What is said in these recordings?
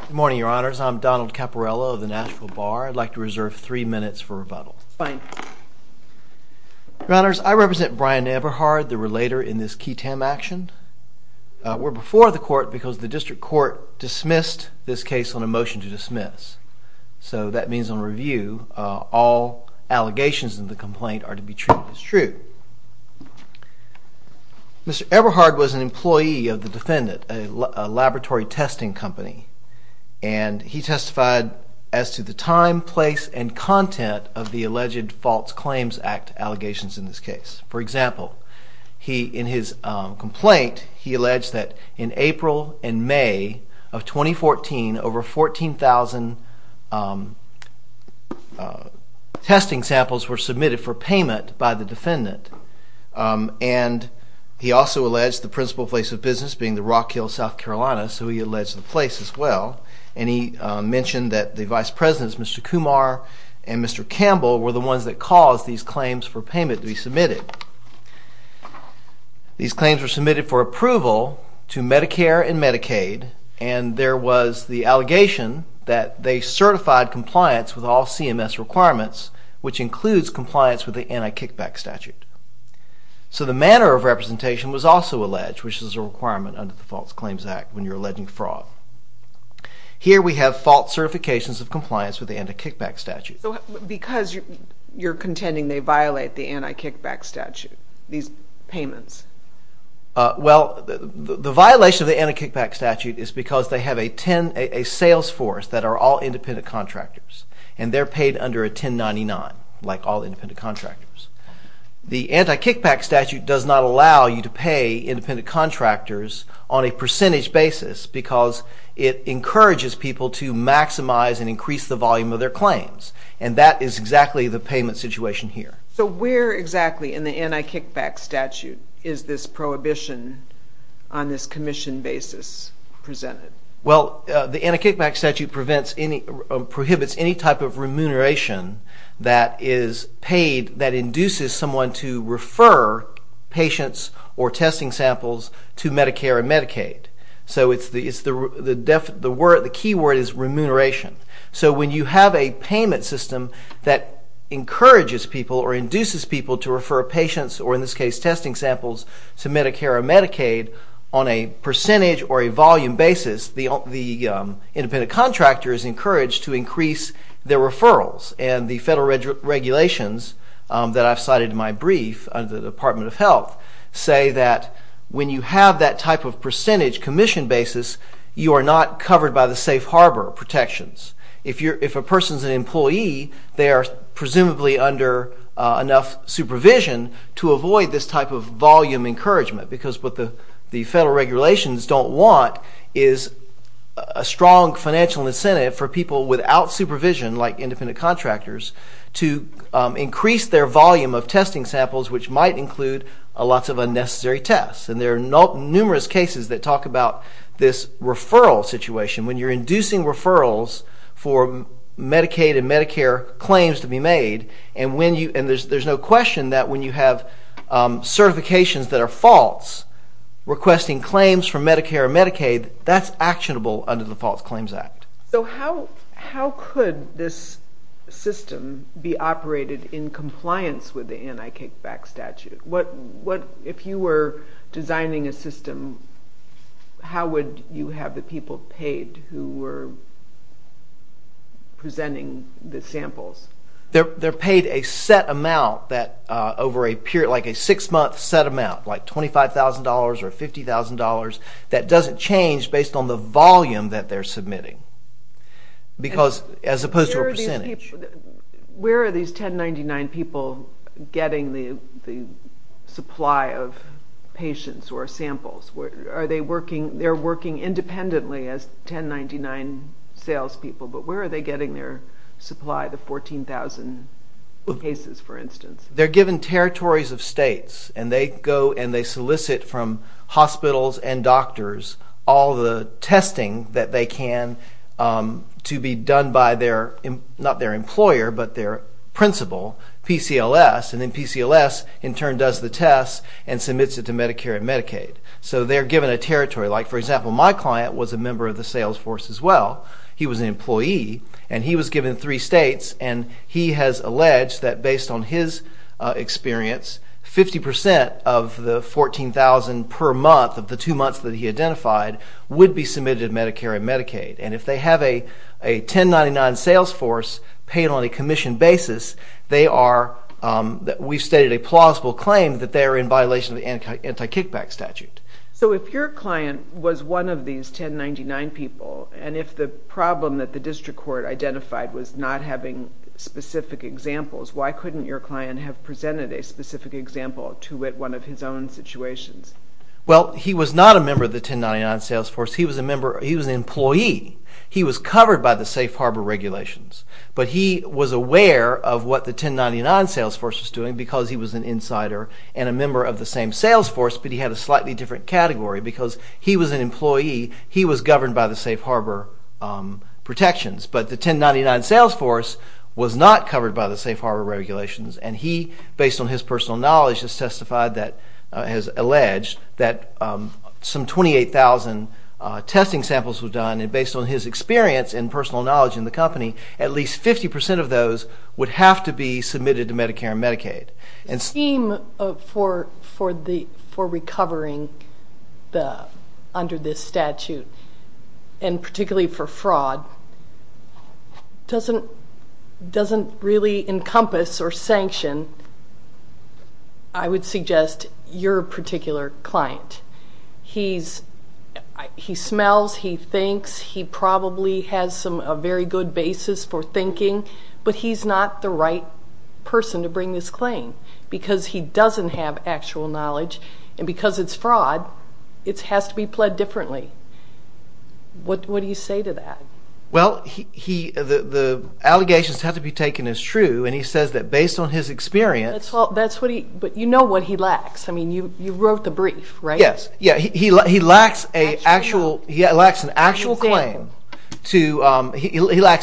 Good morning, Your Honors. I'm Donald Caporello of the Nashville Bar. I'd like to reserve three minutes for rebuttal. Your Honors, I represent Brian Eberhard, the relator in this case on a motion to dismiss. So that means on review, all allegations in the complaint are to be treated as true. Mr. Eberhard was an employee of the defendant, a laboratory testing company, and he testified as to the time, place, and content of the alleged False Claims Act allegations in this case. For example, in his complaint, he alleged that in April and May of 2014, over 14,000 testing samples were submitted for payment by the defendant. And he also alleged the principal place of business being the Rock Hill, South Carolina, so he alleged the place as well. And he mentioned that the Vice Presidents, Mr. Kumar and Mr. Campbell, were the ones that caused these claims for payment to be submitted. These and there was the allegation that they certified compliance with all CMS requirements, which includes compliance with the Anti-Kickback Statute. So the manner of representation was also alleged, which is a requirement under the False Claims Act when you're alleging fraud. Here we have false certifications of compliance with the Anti-Kickback Statute. So because you're contending they violate the Anti-Kickback Statute, these payments? Well, the violation of the Anti-Kickback Statute is because they have a sales force that are all independent contractors. And they're paid under a 1099, like all independent contractors. The Anti-Kickback Statute does not allow you to pay independent contractors on a percentage basis because it encourages people to maximize and increase the volume of their claims. And that is exactly the payment situation here. So where exactly in the Anti-Kickback Statute is this prohibition on this commission basis presented? Well, the Anti-Kickback Statute prohibits any type of remuneration that is paid that induces someone to refer patients or testing samples to Medicare and Medicaid. So the key word is remuneration. So when you have a payment system that encourages people or induces people to refer patients or, in this case, testing samples to Medicare or Medicaid on a percentage or a volume basis, the independent contractor is encouraged to increase their referrals. And the federal regulations that I've cited in my brief under the Department of Health say that when you have that type of percentage commission basis, you are not covered by the safe harbor protections. If a person is an employee, they are presumably under enough supervision to avoid this type of volume encouragement because what the federal regulations don't want is a strong financial incentive for people without supervision, like independent contractors, to increase their volume of testing samples, which might include lots of unnecessary tests. And there are numerous cases that talk about this referral situation. When you're inducing referrals for Medicaid and Medicare claims to be made, and there's no question that when you have certifications that are false, requesting claims from Medicare and Medicaid, that's actionable under the False Claims Act. So how could this system be operated in compliance with the Anti-Kickback Statute? If you were people paid who were presenting the samples? They're paid a set amount, like a six-month set amount, like $25,000 or $50,000. That doesn't change based on the volume that they're submitting as opposed to a percentage. Where are these 1099 people getting the supply of the 14,000 cases, for instance? They're given territories of states, and they go and solicit from hospitals and doctors all the testing that they can to be done by their, not their employer, but their principal, PCLS. And then PCLS, in turn, does the tests and submits it to Medicare and Medicaid. So they're given a territory. For example, my client was a member of the sales force as well. He was an employee, and he was given three states, and he has alleged that based on his experience, 50% of the 14,000 per month of the two months that he identified would be submitted to Medicare and Medicaid. And if they have a 1099 sales force paid on a commission basis, they are, we've stated a plausible claim that they're in violation of the anti-kickback statute. So if your client was one of these 1099 people, and if the problem that the district court identified was not having specific examples, why couldn't your client have presented a specific example to wit one of his own situations? Well, he was not a member of the 1099 sales force. He was a member, he was an employee. He was covered by the safe harbor regulations. But he was aware of what the 1099 sales force was doing because he was an insider and a member of the same sales force, but he had a slightly different category. Because he was an employee, he was governed by the safe harbor protections. But the 1099 sales force was not covered by the safe harbor regulations. And he, based on his personal knowledge, has testified that, has alleged that some 28,000 testing samples were done. And based on his experience and personal knowledge in the company, at least 50% of those would have to be submitted to Medicare and Medicaid. The scheme for recovering under this statute, and particularly for fraud, doesn't really encompass or sanction, I would suggest, your particular client. He smells, he thinks, he probably has a very good basis for thinking, but he's not the right person to bring this claim. Because he doesn't have actual knowledge, and because it's fraud, it has to be pled differently. What do you say to that? Well, the allegations have to be taken as true, and he says that based on his experience... That's what he, but you know what he lacks. I mean, you wrote the brief, right? Yes, he lacks an actual claim, he lacks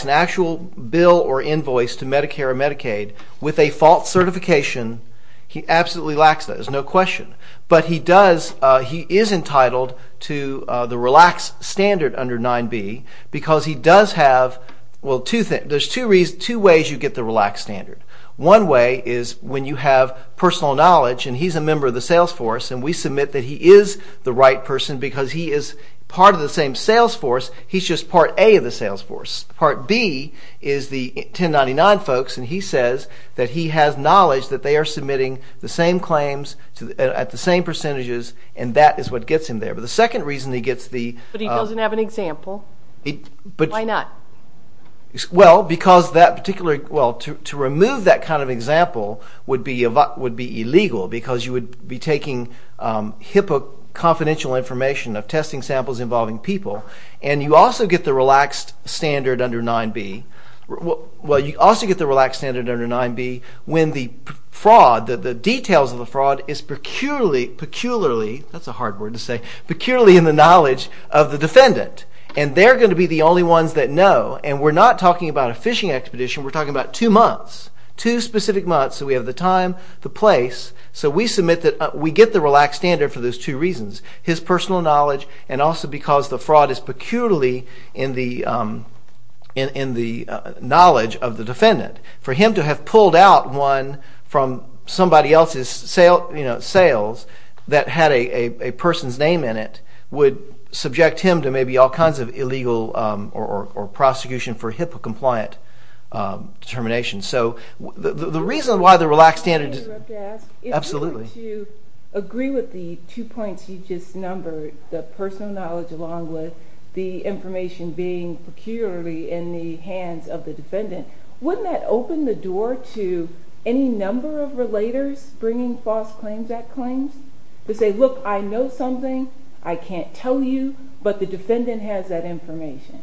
an actual bill or invoice to Medicare and Medicaid with a false certification. He absolutely lacks that, there's no question. But he does, he is entitled to the RELAX standard under 9b, because he does have, well, there's two ways you get the RELAX standard. One way is when you have personal knowledge, and he's a member of the sales force, and we submit that he is the right person, because he is part of the same sales force, he's just part A of the sales force. Part B is the 1099 folks, and he says that he has knowledge that they are submitting the same claims at the same percentages, and that is what gets him there. But the second reason he gets the... But he doesn't have an example. Why not? Well, because that particular, well, to remove that kind of example would be illegal, because you would be taking HIPAA confidential information of testing samples involving people, and you also get the RELAX standard under 9b. Well, you also get the RELAX standard under 9b when the fraud, the details of the fraud is peculiarly, peculiarly, that's a hard word to say, peculiarly in the knowledge of the defendant. And they're going to be the only ones that know, and we're not talking about a fishing expedition, we're talking about two months, two specific months, so we have the time, the place, so we submit that we get the RELAX standard for those two reasons, his personal knowledge, and also because the fraud is peculiarly in the knowledge of the defendant. For him to have pulled out one from somebody else's sales that had a person's name in it would subject him to maybe all kinds of illegal or prosecution for HIPAA-compliant determination. So the reason why the RELAX standard... Can I interrupt to ask? Absolutely. If we were to agree with the two points you just numbered, the personal knowledge along with the information being peculiarly in the hands of the defendant, wouldn't that open the door to any number of relators bringing false claims at claims? To say, look, I know something, I can't tell you, but the defendant has that information.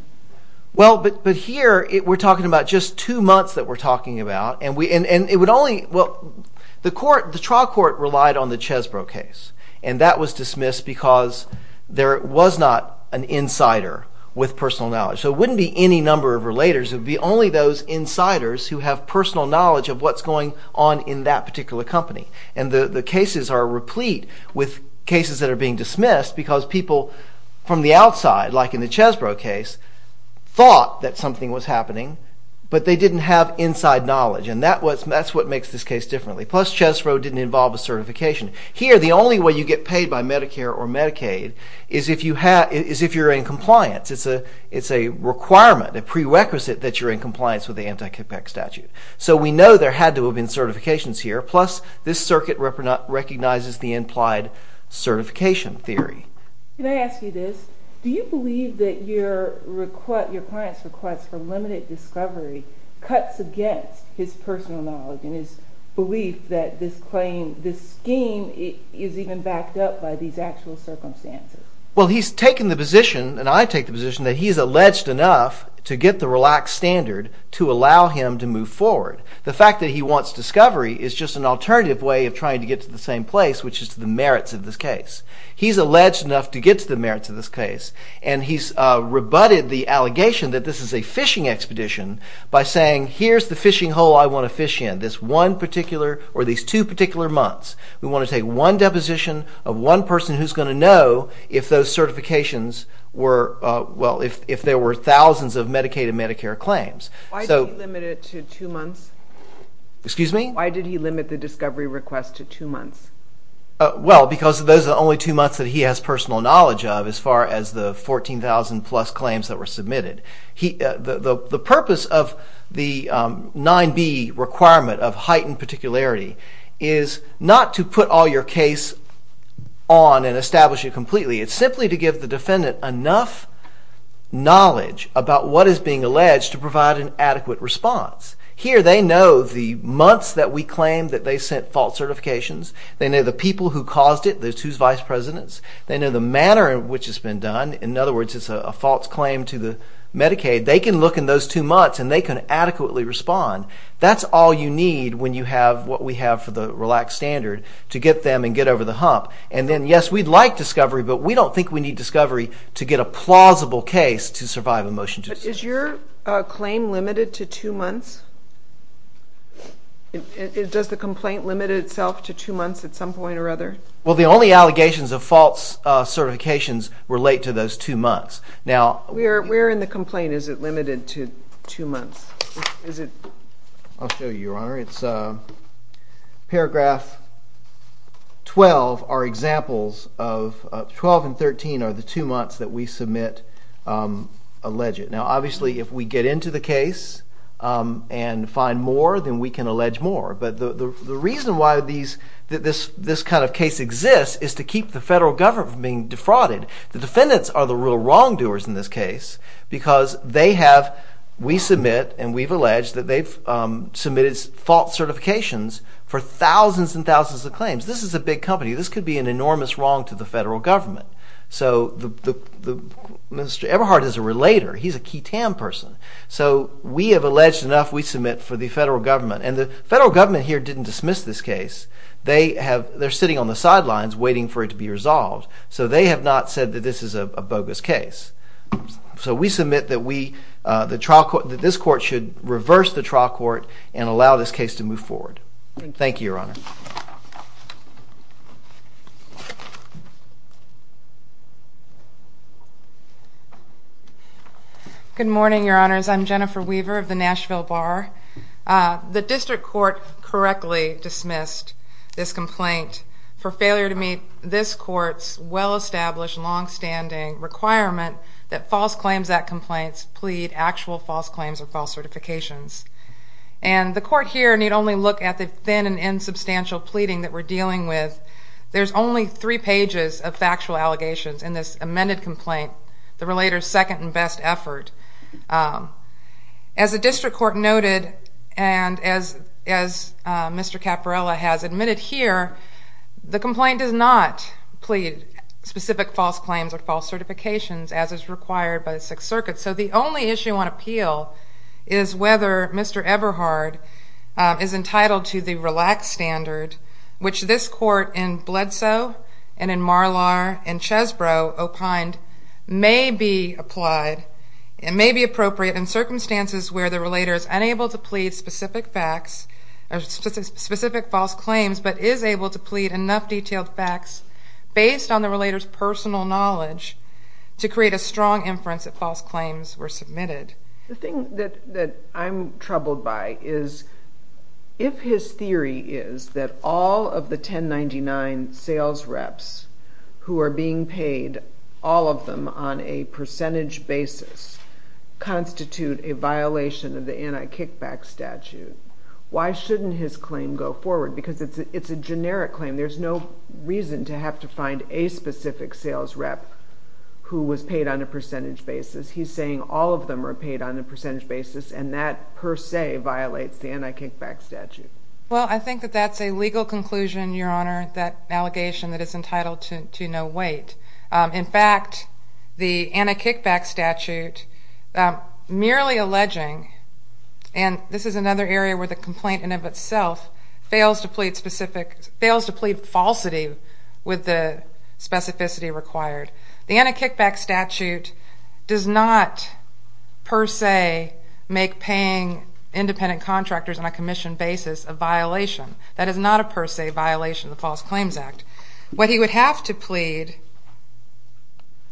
Well, but here we're talking about just two months that we're talking about, and it would only... Well, the trial court relied on the Chesbrough case, and that was dismissed because there was not an insider with personal knowledge, so it wouldn't be any number of relators, it would be only those insiders who have personal knowledge of what's going on in that particular company, and the cases are replete with cases that are being dismissed because people from the outside, like in the Chesbrough case, thought that something was happening, but they didn't have inside knowledge, and that's what makes this case differently. Plus, Chesbrough didn't involve a certification. Here, the only way you get paid by Medicare or Medicaid is if you're in compliance. It's a requirement, a prerequisite that you're in compliance with the anti-CIPEC statute. So we know there had to have been certifications here, plus this circuit recognizes the implied certification theory. Can I ask you this? Do you believe that your client's request for limited discovery cuts against his personal knowledge and his belief that this claim, this scheme, is even backed up by these actual circumstances? Well, he's taken the position, and I take the position, that he's alleged enough to get the relaxed standard to allow him to move forward. The fact that he wants discovery is just an alternative way of trying to get to the same case. He's alleged enough to get to the merits of this case, and he's rebutted the allegation that this is a fishing expedition by saying, here's the fishing hole I want to fish in this one particular, or these two particular months. We want to take one deposition of one person who's going to know if those certifications were, well, if there were thousands of Medicaid and Medicare claims. Why did he limit it to two months? Excuse me? Why did he limit the discovery request to two months? Those are the only two months that he has personal knowledge of as far as the 14,000 plus claims that were submitted. The purpose of the 9b requirement of heightened particularity is not to put all your case on and establish it completely. It's simply to give the defendant enough knowledge about what is being alleged to provide an adequate response. Here they know the months that we claim that they sent false certifications. They know the people who caused it, who's vice presidents. They know the manner in which it's been done. In other words, it's a false claim to the Medicaid. They can look in those two months and they can adequately respond. That's all you need when you have what we have for the relaxed standard to get them and get over the hump. And then, yes, we'd like discovery, but we don't think we need discovery to get a plausible case to survive a motion. But is your claim limited to two months? Does the complaint limit itself to two months at some point or other? Well, the only allegations of false certifications relate to those two months. Now, where in the complaint is it limited to two months? I'll show you, Your Honor. It's paragraph 12. Our examples of 12 and 13 are the two months that we submit alleged. Now, obviously, if we get into the case and find more, then we can allege more. But the reason that this kind of case exists is to keep the federal government from being defrauded. The defendants are the real wrongdoers in this case because they have, we submit, and we've alleged that they've submitted false certifications for thousands and thousands of claims. This is a big company. This could be an enormous wrong to the federal government. So the Minister Eberhardt is a relator. He's a key TAM person. So we have alleged enough, we submit for the federal government. And the federal government here didn't dismiss this case. They have, they're sitting on the sidelines waiting for it to be resolved. So they have not said that this is a bogus case. So we submit that we, the trial court, that this court should reverse the trial court and allow this case to move forward. Thank you, Your Honor. Good morning, Your Honors. I'm Jennifer Weaver of the Nashville Bar. The district court correctly dismissed this complaint for failure to meet this court's well-established, long-standing requirement that False Claims Act complaints plead actual false claims or false certifications. And the court here need only look at the thin and insubstantial evidence that this court pleading that we're dealing with. There's only three pages of factual allegations in this amended complaint, the relator's second and best effort. As the district court noted, and as Mr. Caporella has admitted here, the complaint does not plead specific false claims or false certifications as is required by the Sixth Circuit. So the only issue on appeal is whether Mr. Caporella meets that standard, which this court in Bledsoe and in Marlar and Chesbrough opined may be applied and may be appropriate in circumstances where the relator is unable to plead specific facts or specific false claims, but is able to plead enough detailed facts based on the relator's personal knowledge to create a strong inference that false claims were submitted. The thing that I'm troubled by is if his theory is that all of the 1099 sales reps who are being paid, all of them on a percentage basis, constitute a violation of the anti-kickback statute, why shouldn't his claim go forward? Because it's a generic claim. There's no reason to have to find a specific sales rep who was paid on a percentage basis. He's saying all of them are paid on a percentage basis, and that per se violates the anti-kickback statute. Well, I think that that's a legal conclusion, Your Honor, that allegation that is entitled to no weight. In fact, the anti-kickback statute merely alleging, and this is another area where the complaint in and of itself fails to plead specific, fails to plead falsity with the per se make paying independent contractors on a commission basis a violation. That is not a per se violation of the False Claims Act. What he would have to plead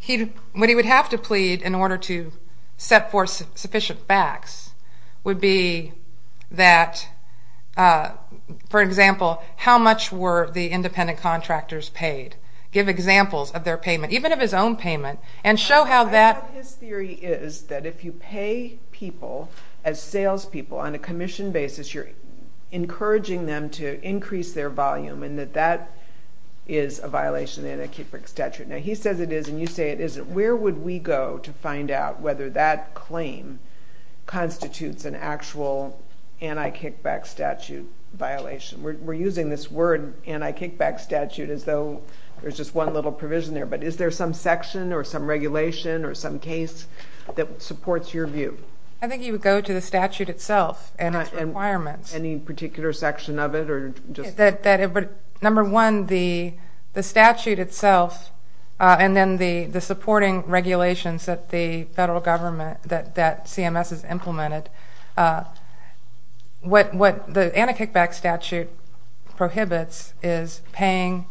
in order to set forth sufficient facts would be that, for example, how much were the independent contractors paid? Give examples of their payment, even of his own payment, and show how that... I think his theory is that if you pay people as salespeople on a commission basis, you're encouraging them to increase their volume, and that that is a violation of the anti-kickback statute. Now, he says it is, and you say it isn't. Where would we go to find out whether that claim constitutes an actual anti-kickback statute violation? We're using this word anti-kickback statute as though there's just one little provision there, but is there some section or some regulation or some case that supports your view? I think you would go to the statute itself and its requirements. Any particular section of it? Number one, the statute itself, and then the supporting regulations that the federal government, that CMS has implemented. What the anti-kickback statute prohibits is paying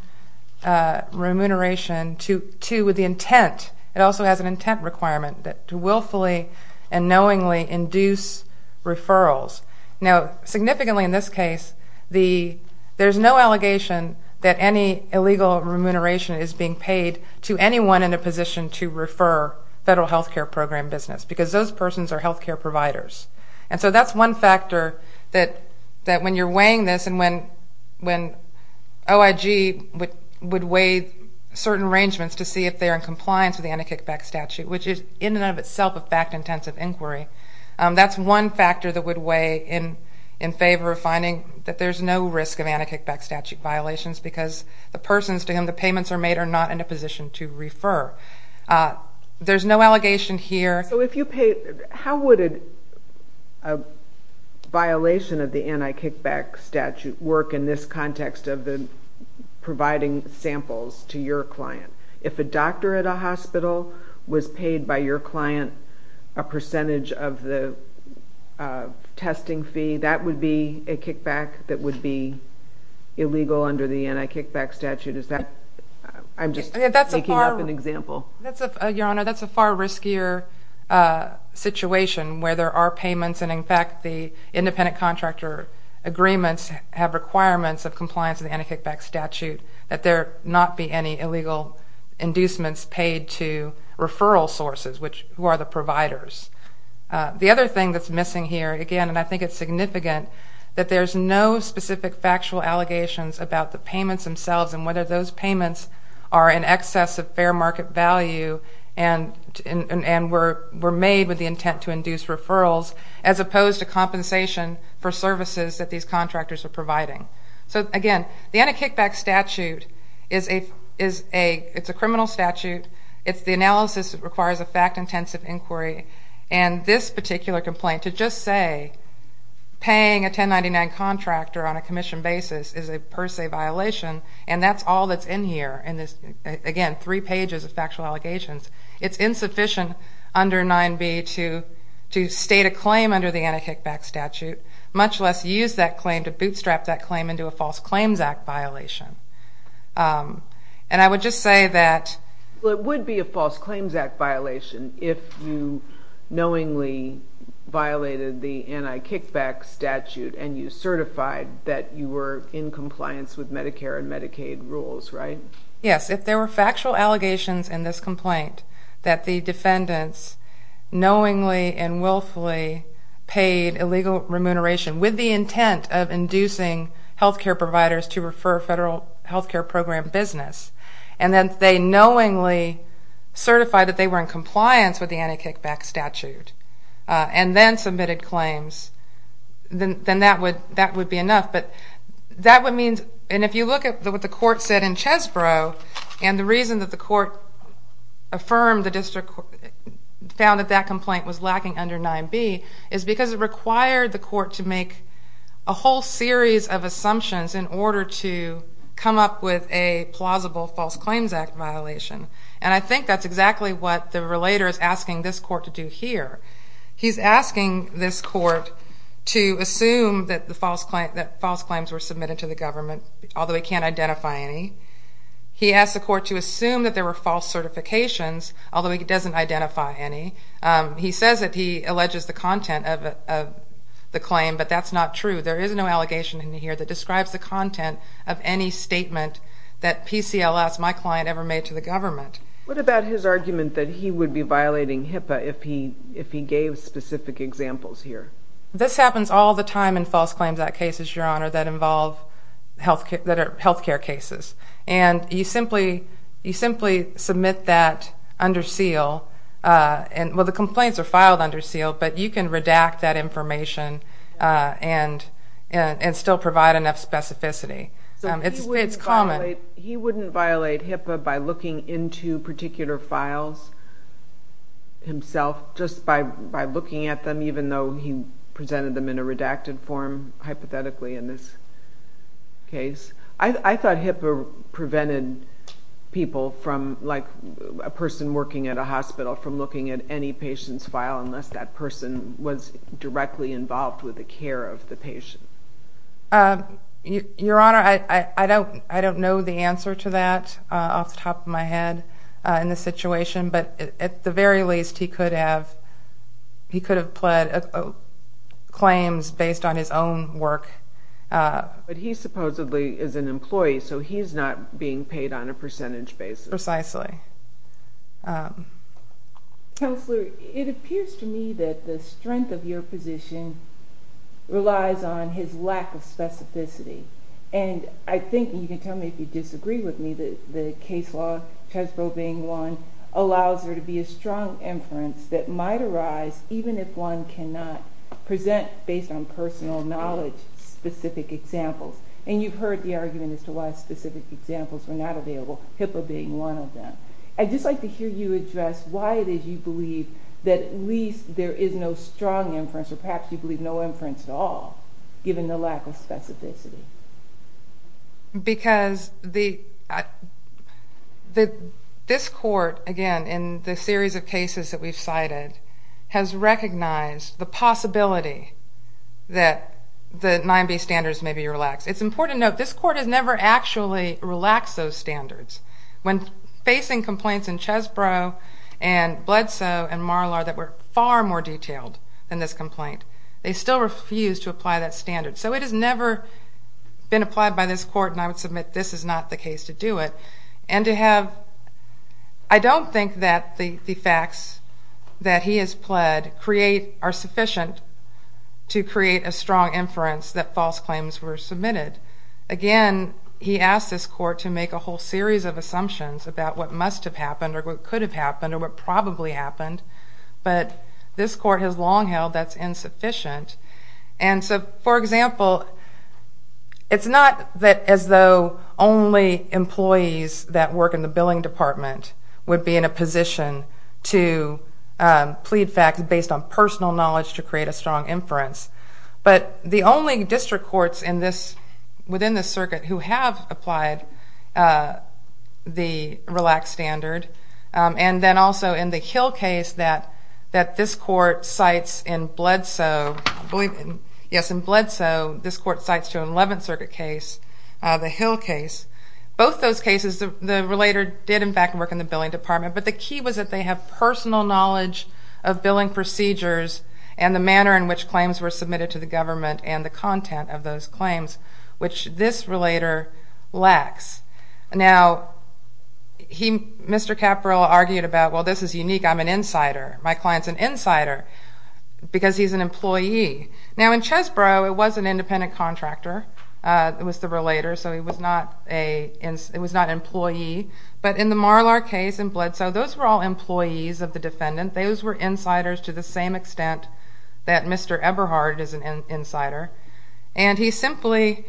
remuneration to, with the intent, it also has an intent requirement, that to willfully and knowingly induce referrals. Now, significantly in this case, there's no allegation that any illegal remuneration is being paid to anyone in a position to refer federal health care program business, because those persons are health care providers. And so that's one factor that when you're weighing this and when OIG would weigh certain arrangements to see if they're in compliance with the anti-kickback statute, which is in and of itself a fact-intensive inquiry, that's one factor that would weigh in favor of finding that there's no risk of anti-kickback statute violations, because the persons to whom the payments are made are not in a position to refer. There's no allegation here. So if you paid, how would a violation of the anti-kickback statute work in this context of the providing samples to your client? If a doctor at a hospital was paid by your client a percentage of the testing fee, that would be a kickback that would illegal under the anti-kickback statute. I'm just making up an example. Your Honor, that's a far riskier situation where there are payments, and in fact, the independent contractor agreements have requirements of compliance with the anti-kickback statute that there not be any illegal inducements paid to referral sources, who are the providers. The other thing that's missing here, again, and I think it's significant, that there's no specific factual allegations about the payments themselves and whether those payments are in excess of fair market value and were made with the intent to induce referrals, as opposed to compensation for services that these contractors are providing. So again, the anti-kickback statute is a criminal statute. It's the analysis that requires a particular complaint to just say paying a 1099 contractor on a commission basis is a per se violation, and that's all that's in here. And again, three pages of factual allegations. It's insufficient under 9b to state a claim under the anti-kickback statute, much less use that claim to bootstrap that claim into a False Claims Act violation. And I would just say that... Well, it would be a False Claims Act violation if you knowingly violated the anti-kickback statute and you certified that you were in compliance with Medicare and Medicaid rules, right? Yes, if there were factual allegations in this complaint that the defendants knowingly and willfully paid illegal remuneration with the intent of inducing health care providers to federal health care program business, and then they knowingly certified that they were in compliance with the anti-kickback statute, and then submitted claims, then that would be enough. But that would mean... And if you look at what the court said in Chesbrough, and the reason that the court affirmed the district found that that complaint was lacking under 9b is because it required the come up with a plausible False Claims Act violation. And I think that's exactly what the relator is asking this court to do here. He's asking this court to assume that false claims were submitted to the government, although he can't identify any. He asked the court to assume that there were false certifications, although he doesn't identify any. He says that he alleges the content of the claim, but that's not true. There is no allegation in here that describes the content of any statement that PCLS, my client, ever made to the government. What about his argument that he would be violating HIPAA if he gave specific examples here? This happens all the time in False Claims Act cases, Your Honor, that involve health care cases. And you simply submit that under seal. And well, the complaints are filed under seal, but you can redact that information and still provide enough specificity. He wouldn't violate HIPAA by looking into particular files himself, just by looking at them, even though he presented them in a redacted form, hypothetically, in this case. I thought HIPAA prevented people from, like a person working at a hospital, from looking at any patient's file unless that person was directly involved with the care of the patient. Your Honor, I don't know the answer to that off the top of my head in this situation. But at the very least, he could have pled claims based on his own work. But he supposedly is an employee, so he's not being paid on a percentage basis. Precisely. Counselor, it appears to me that the strength of your position relies on his lack of specificity. And I think you can tell me if you disagree with me that the case law, Chesbro being one, allows there to be a strong inference that might arise even if one cannot present, based on personal knowledge, specific examples. And you've heard the argument as to why specific examples were not available, HIPAA being one of them. I'd just like to hear you address why it is you believe that at least there is no strong inference, or perhaps you believe no inference at all, given the lack of specificity. Because this court, again, in the series of cases that we've cited, has recognized the possibility that the 9B standards may be relaxed. It's important to note, this court has never actually relaxed those standards. When facing complaints in Chesbro and Bledsoe and Marlar that were far more detailed than this complaint, they still refused to apply that standard. So it has never been applied by this court, and I would submit this is not the case to do it. And to have, I don't think that the facts that he has pled are sufficient to create a strong inference that false claims were submitted. Again, he asked this court to make a whole series of assumptions about what must have happened or what could have happened or what probably happened, but this court has long held that's insufficient. And so, for example, it's not as though only employees that work in the billing department would be in a position to plead facts based on personal knowledge to create a strong inference. But the only district courts within this circuit who have applied the relaxed standard, and then also in the Hill case that this court cites in Bledsoe, this court cites to an 11th Circuit case, the Hill case, both those cases the relator did in fact work in the billing department, but the key was that they have personal knowledge of billing procedures and the manner in which claims were submitted to the government and the content of those claims, which this relator lacks. Now, Mr. Caperell argued about, well, this is unique. I'm an insider. My client's an insider because he's an employee. Now, in Chesbrough, it was an independent contractor, it was the relator, so he was not an employee. But in the Marlar case in Bledsoe, those were all employees of the defendant. Those were insiders to the same extent that Mr. Eberhardt is an insider. And he simply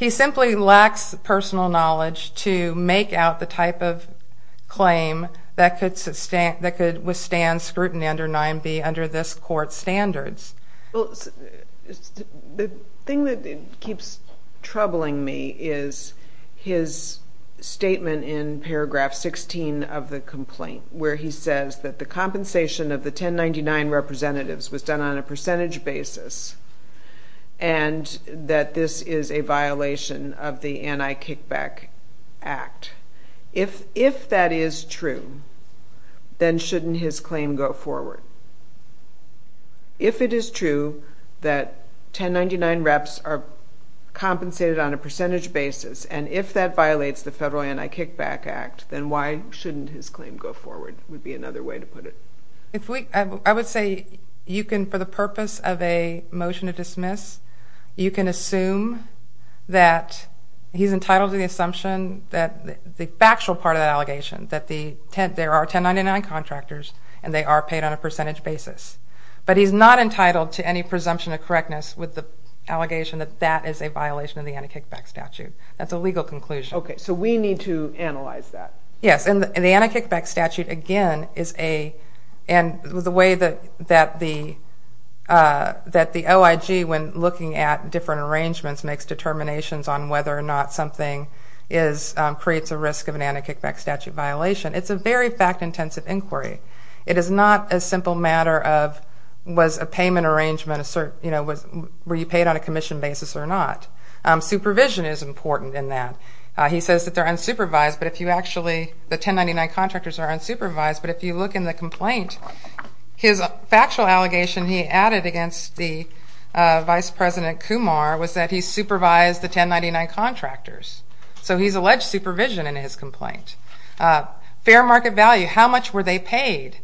lacks personal knowledge to make out the type of claim that could withstand scrutiny under 9B under this court's standards. The thing that keeps troubling me is his statement in paragraph 16 of the complaint where he said that compensation of the 1099 representatives was done on a percentage basis and that this is a violation of the Anti-Kickback Act. If that is true, then shouldn't his claim go forward? If it is true that 1099 reps are compensated on a percentage basis and if that violates the federal Anti-Kickback Act, then why shouldn't his claim go forward would be another way to put it. I would say you can, for the purpose of a motion to dismiss, you can assume that he's entitled to the assumption, the factual part of the allegation, that there are 1099 contractors and they are paid on a percentage basis. But he's not entitled to any presumption of correctness with the allegation that that is a violation of the Anti-Kickback Statute. That's a legal conclusion. Okay, so we need to analyze that. Yes, and the Anti-Kickback Statute again is a, and the way that the OIG when looking at different arrangements makes determinations on whether or not something creates a risk of an Anti-Kickback Statute violation, it's a very fact-intensive inquiry. It is not a simple matter of was a payment arrangement, were you paid on a commission basis or not. Supervision is important in that. He says that they're unsupervised, but if you actually, the 1099 contractors are unsupervised, but if you look in the complaint, his factual allegation he added against the Vice President Kumar was that he supervised the 1099 contractors. So he's alleged supervision in his complaint. Fair market value, how much were they paid?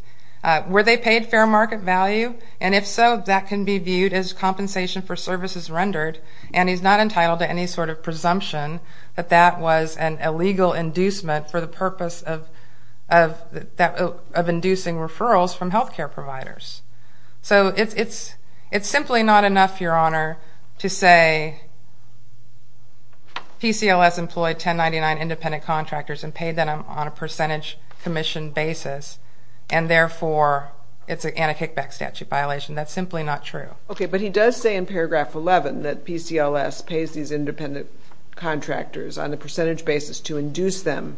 Were they paid fair market value? And if so, that can be viewed as compensation for services rendered and he's not entitled to any sort of presumption that that was an illegal inducement for the purpose of inducing referrals from healthcare providers. So it's simply not enough, Your Honor, to say PCLS employed 1099 independent contractors and paid them on a percentage commission basis and therefore it's an Anti-Kickback Statute violation. That's simply not true. Okay, but he does say in paragraph 11 that PCLS pays these independent contractors on a percentage basis to induce them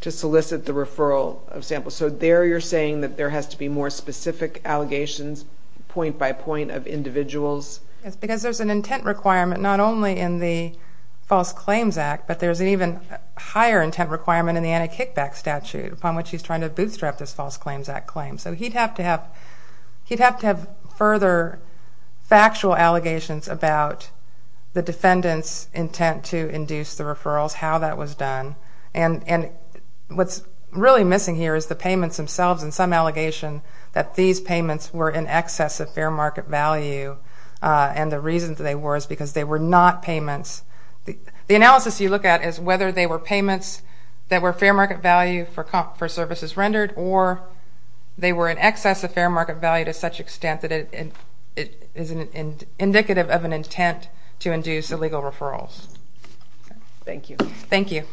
to solicit the referral of samples. So there you're saying that there has to be more specific allegations point by point of individuals? It's because there's an intent requirement not only in the False Claims Act, but there's an even higher intent requirement in the Anti-Kickback Statute upon which he's trying to bootstrap this False Claims Act claim. So he'd have to have further factual allegations about the defendant's intent to induce the referrals, how that was done. And what's really missing here is the payments themselves and some allegation that these payments were in excess of fair market value and the reason that they were is because they were not payments. The analysis you look at is whether they were payments that were fair market value for services rendered or they were in excess of fair market value to such extent that it is indicative of an intent to induce illegal referrals. Thank you. Thank you.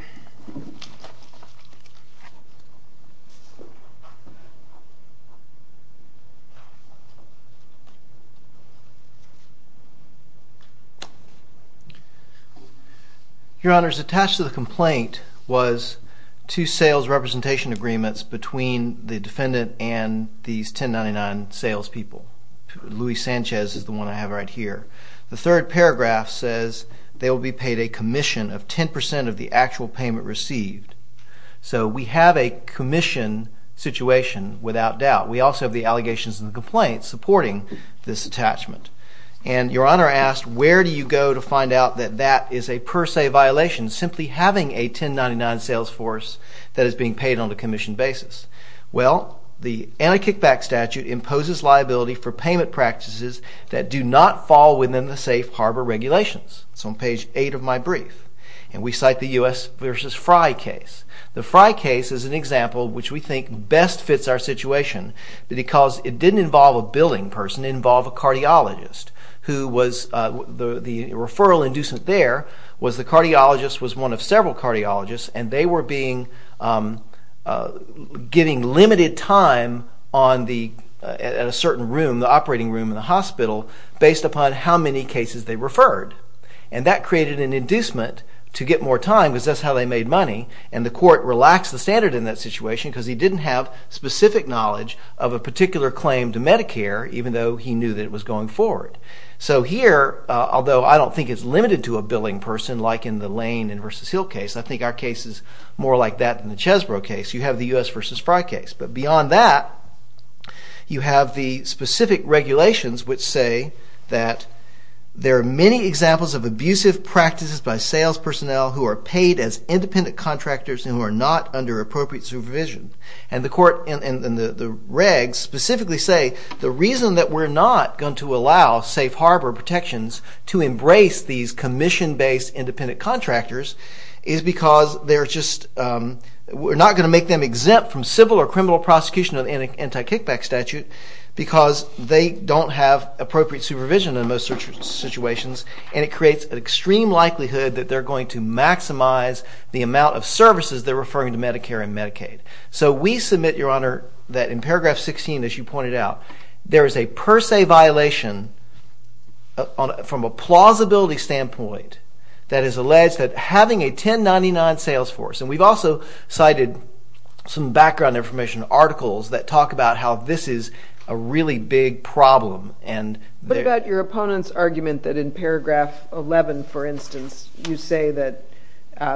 Your Honor, attached to the complaint was two sales representation agreements between the defendant and these 1099 salespeople. Luis Sanchez is the one I have right here. The third paragraph says they will be paid a commission of 10% of the actual payment received. So we have a commission situation without doubt. We also have the allegations and the complaints supporting this attachment. And Your Honor asked where do you go to find out that that is a per se violation, simply having a 1099 sales force that is being paid on a commission basis. Well, the Anti-Kickback Statute imposes liability for payment practices that do not fall within the safe harbor regulations. It's on page 8 of my brief. And we cite the U.S. versus Frye case. The Frye case is an example which we think best fits our situation because it didn't involve a billing person, it involved a cardiologist who was, the referral inducement there was the cardiologist was one of several cardiologists and they were being, getting limited time on the, at a certain room, the operating room in the hospital based upon how many cases they referred. And that created an inducement to get more time because that's how they made money. And the court relaxed the standard in that situation because he didn't have specific knowledge of a particular claim to Medicare even though he knew that it was going forward. So here, although I don't think it's limited to a billing person like in the Lane and versus Hill case, I think our case is more like that than the Chesbrough case. You have the U.S. versus Frye case. But beyond that, you have the specific regulations which say that there are many examples of abusive practices by sales personnel who are paid as independent contractors and who are not under appropriate supervision. And the court and the regs specifically say the reason that we're not going to allow safe harbor protections to embrace these commission-based independent contractors is because they're just, we're not going to make them exempt from civil or criminal prosecution of anti-kickback statute because they don't have appropriate supervision in most situations and it creates an extreme likelihood that they're going to maximize the amount of services they're referring to Medicare and Medicaid. So we submit, Your Honor, that in paragraph 16, as you pointed out, there is a per se violation from a plausibility standpoint that is alleged that having a 1099 sales force, and we've also cited some background information articles that talk about how this is a really big problem. But about your opponent's argument that in paragraph 11, for instance, you say that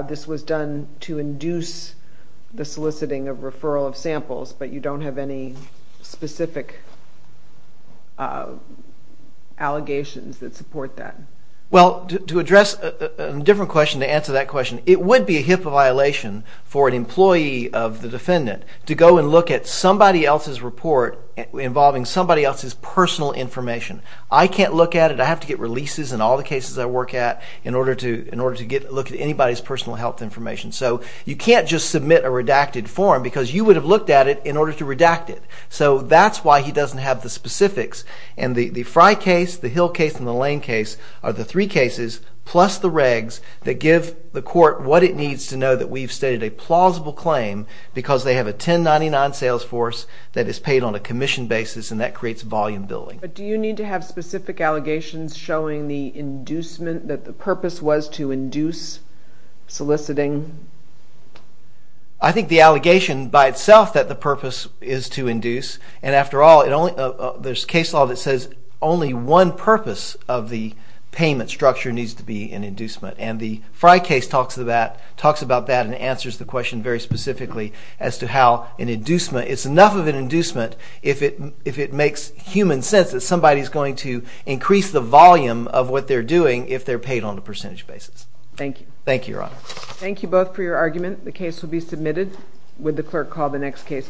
this was done to induce the soliciting of referral of samples, but you don't have any specific allegations that support that. Well, to address a different question, to answer that question, it would be a HIPAA violation for an employee of the defendant to go and look at somebody else's report involving somebody else's personal information. I can't look at it. I have to get releases in all the cases I work at in order to get a look at anybody's personal health information. So you can't just submit a redacted form, because you would have looked at it in order to redact it. So that's why he doesn't have the specifics. And the Fry case, the Hill case, and the Lane case are the three cases plus the regs that give the court what it needs to know that we've stated a plausible claim, because they have a 1099 sales force that is paid on a commission basis, and that creates volume billing. But do you need to have specific allegations showing the inducement, that the purpose was to induce soliciting? I think the allegation by itself that the purpose is to induce, and after all, there's case law that says only one purpose of the payment structure needs to be an inducement. And the Fry case talks about that and answers the question very specifically as to how an inducement, it's enough of an inducement if it makes human sense that somebody's going to increase the volume of what they're doing if they're paid on a percentage basis. Thank you. Thank you, Your Honor. Thank you both for your argument. The case will be submitted. Would the clerk call the next case, please?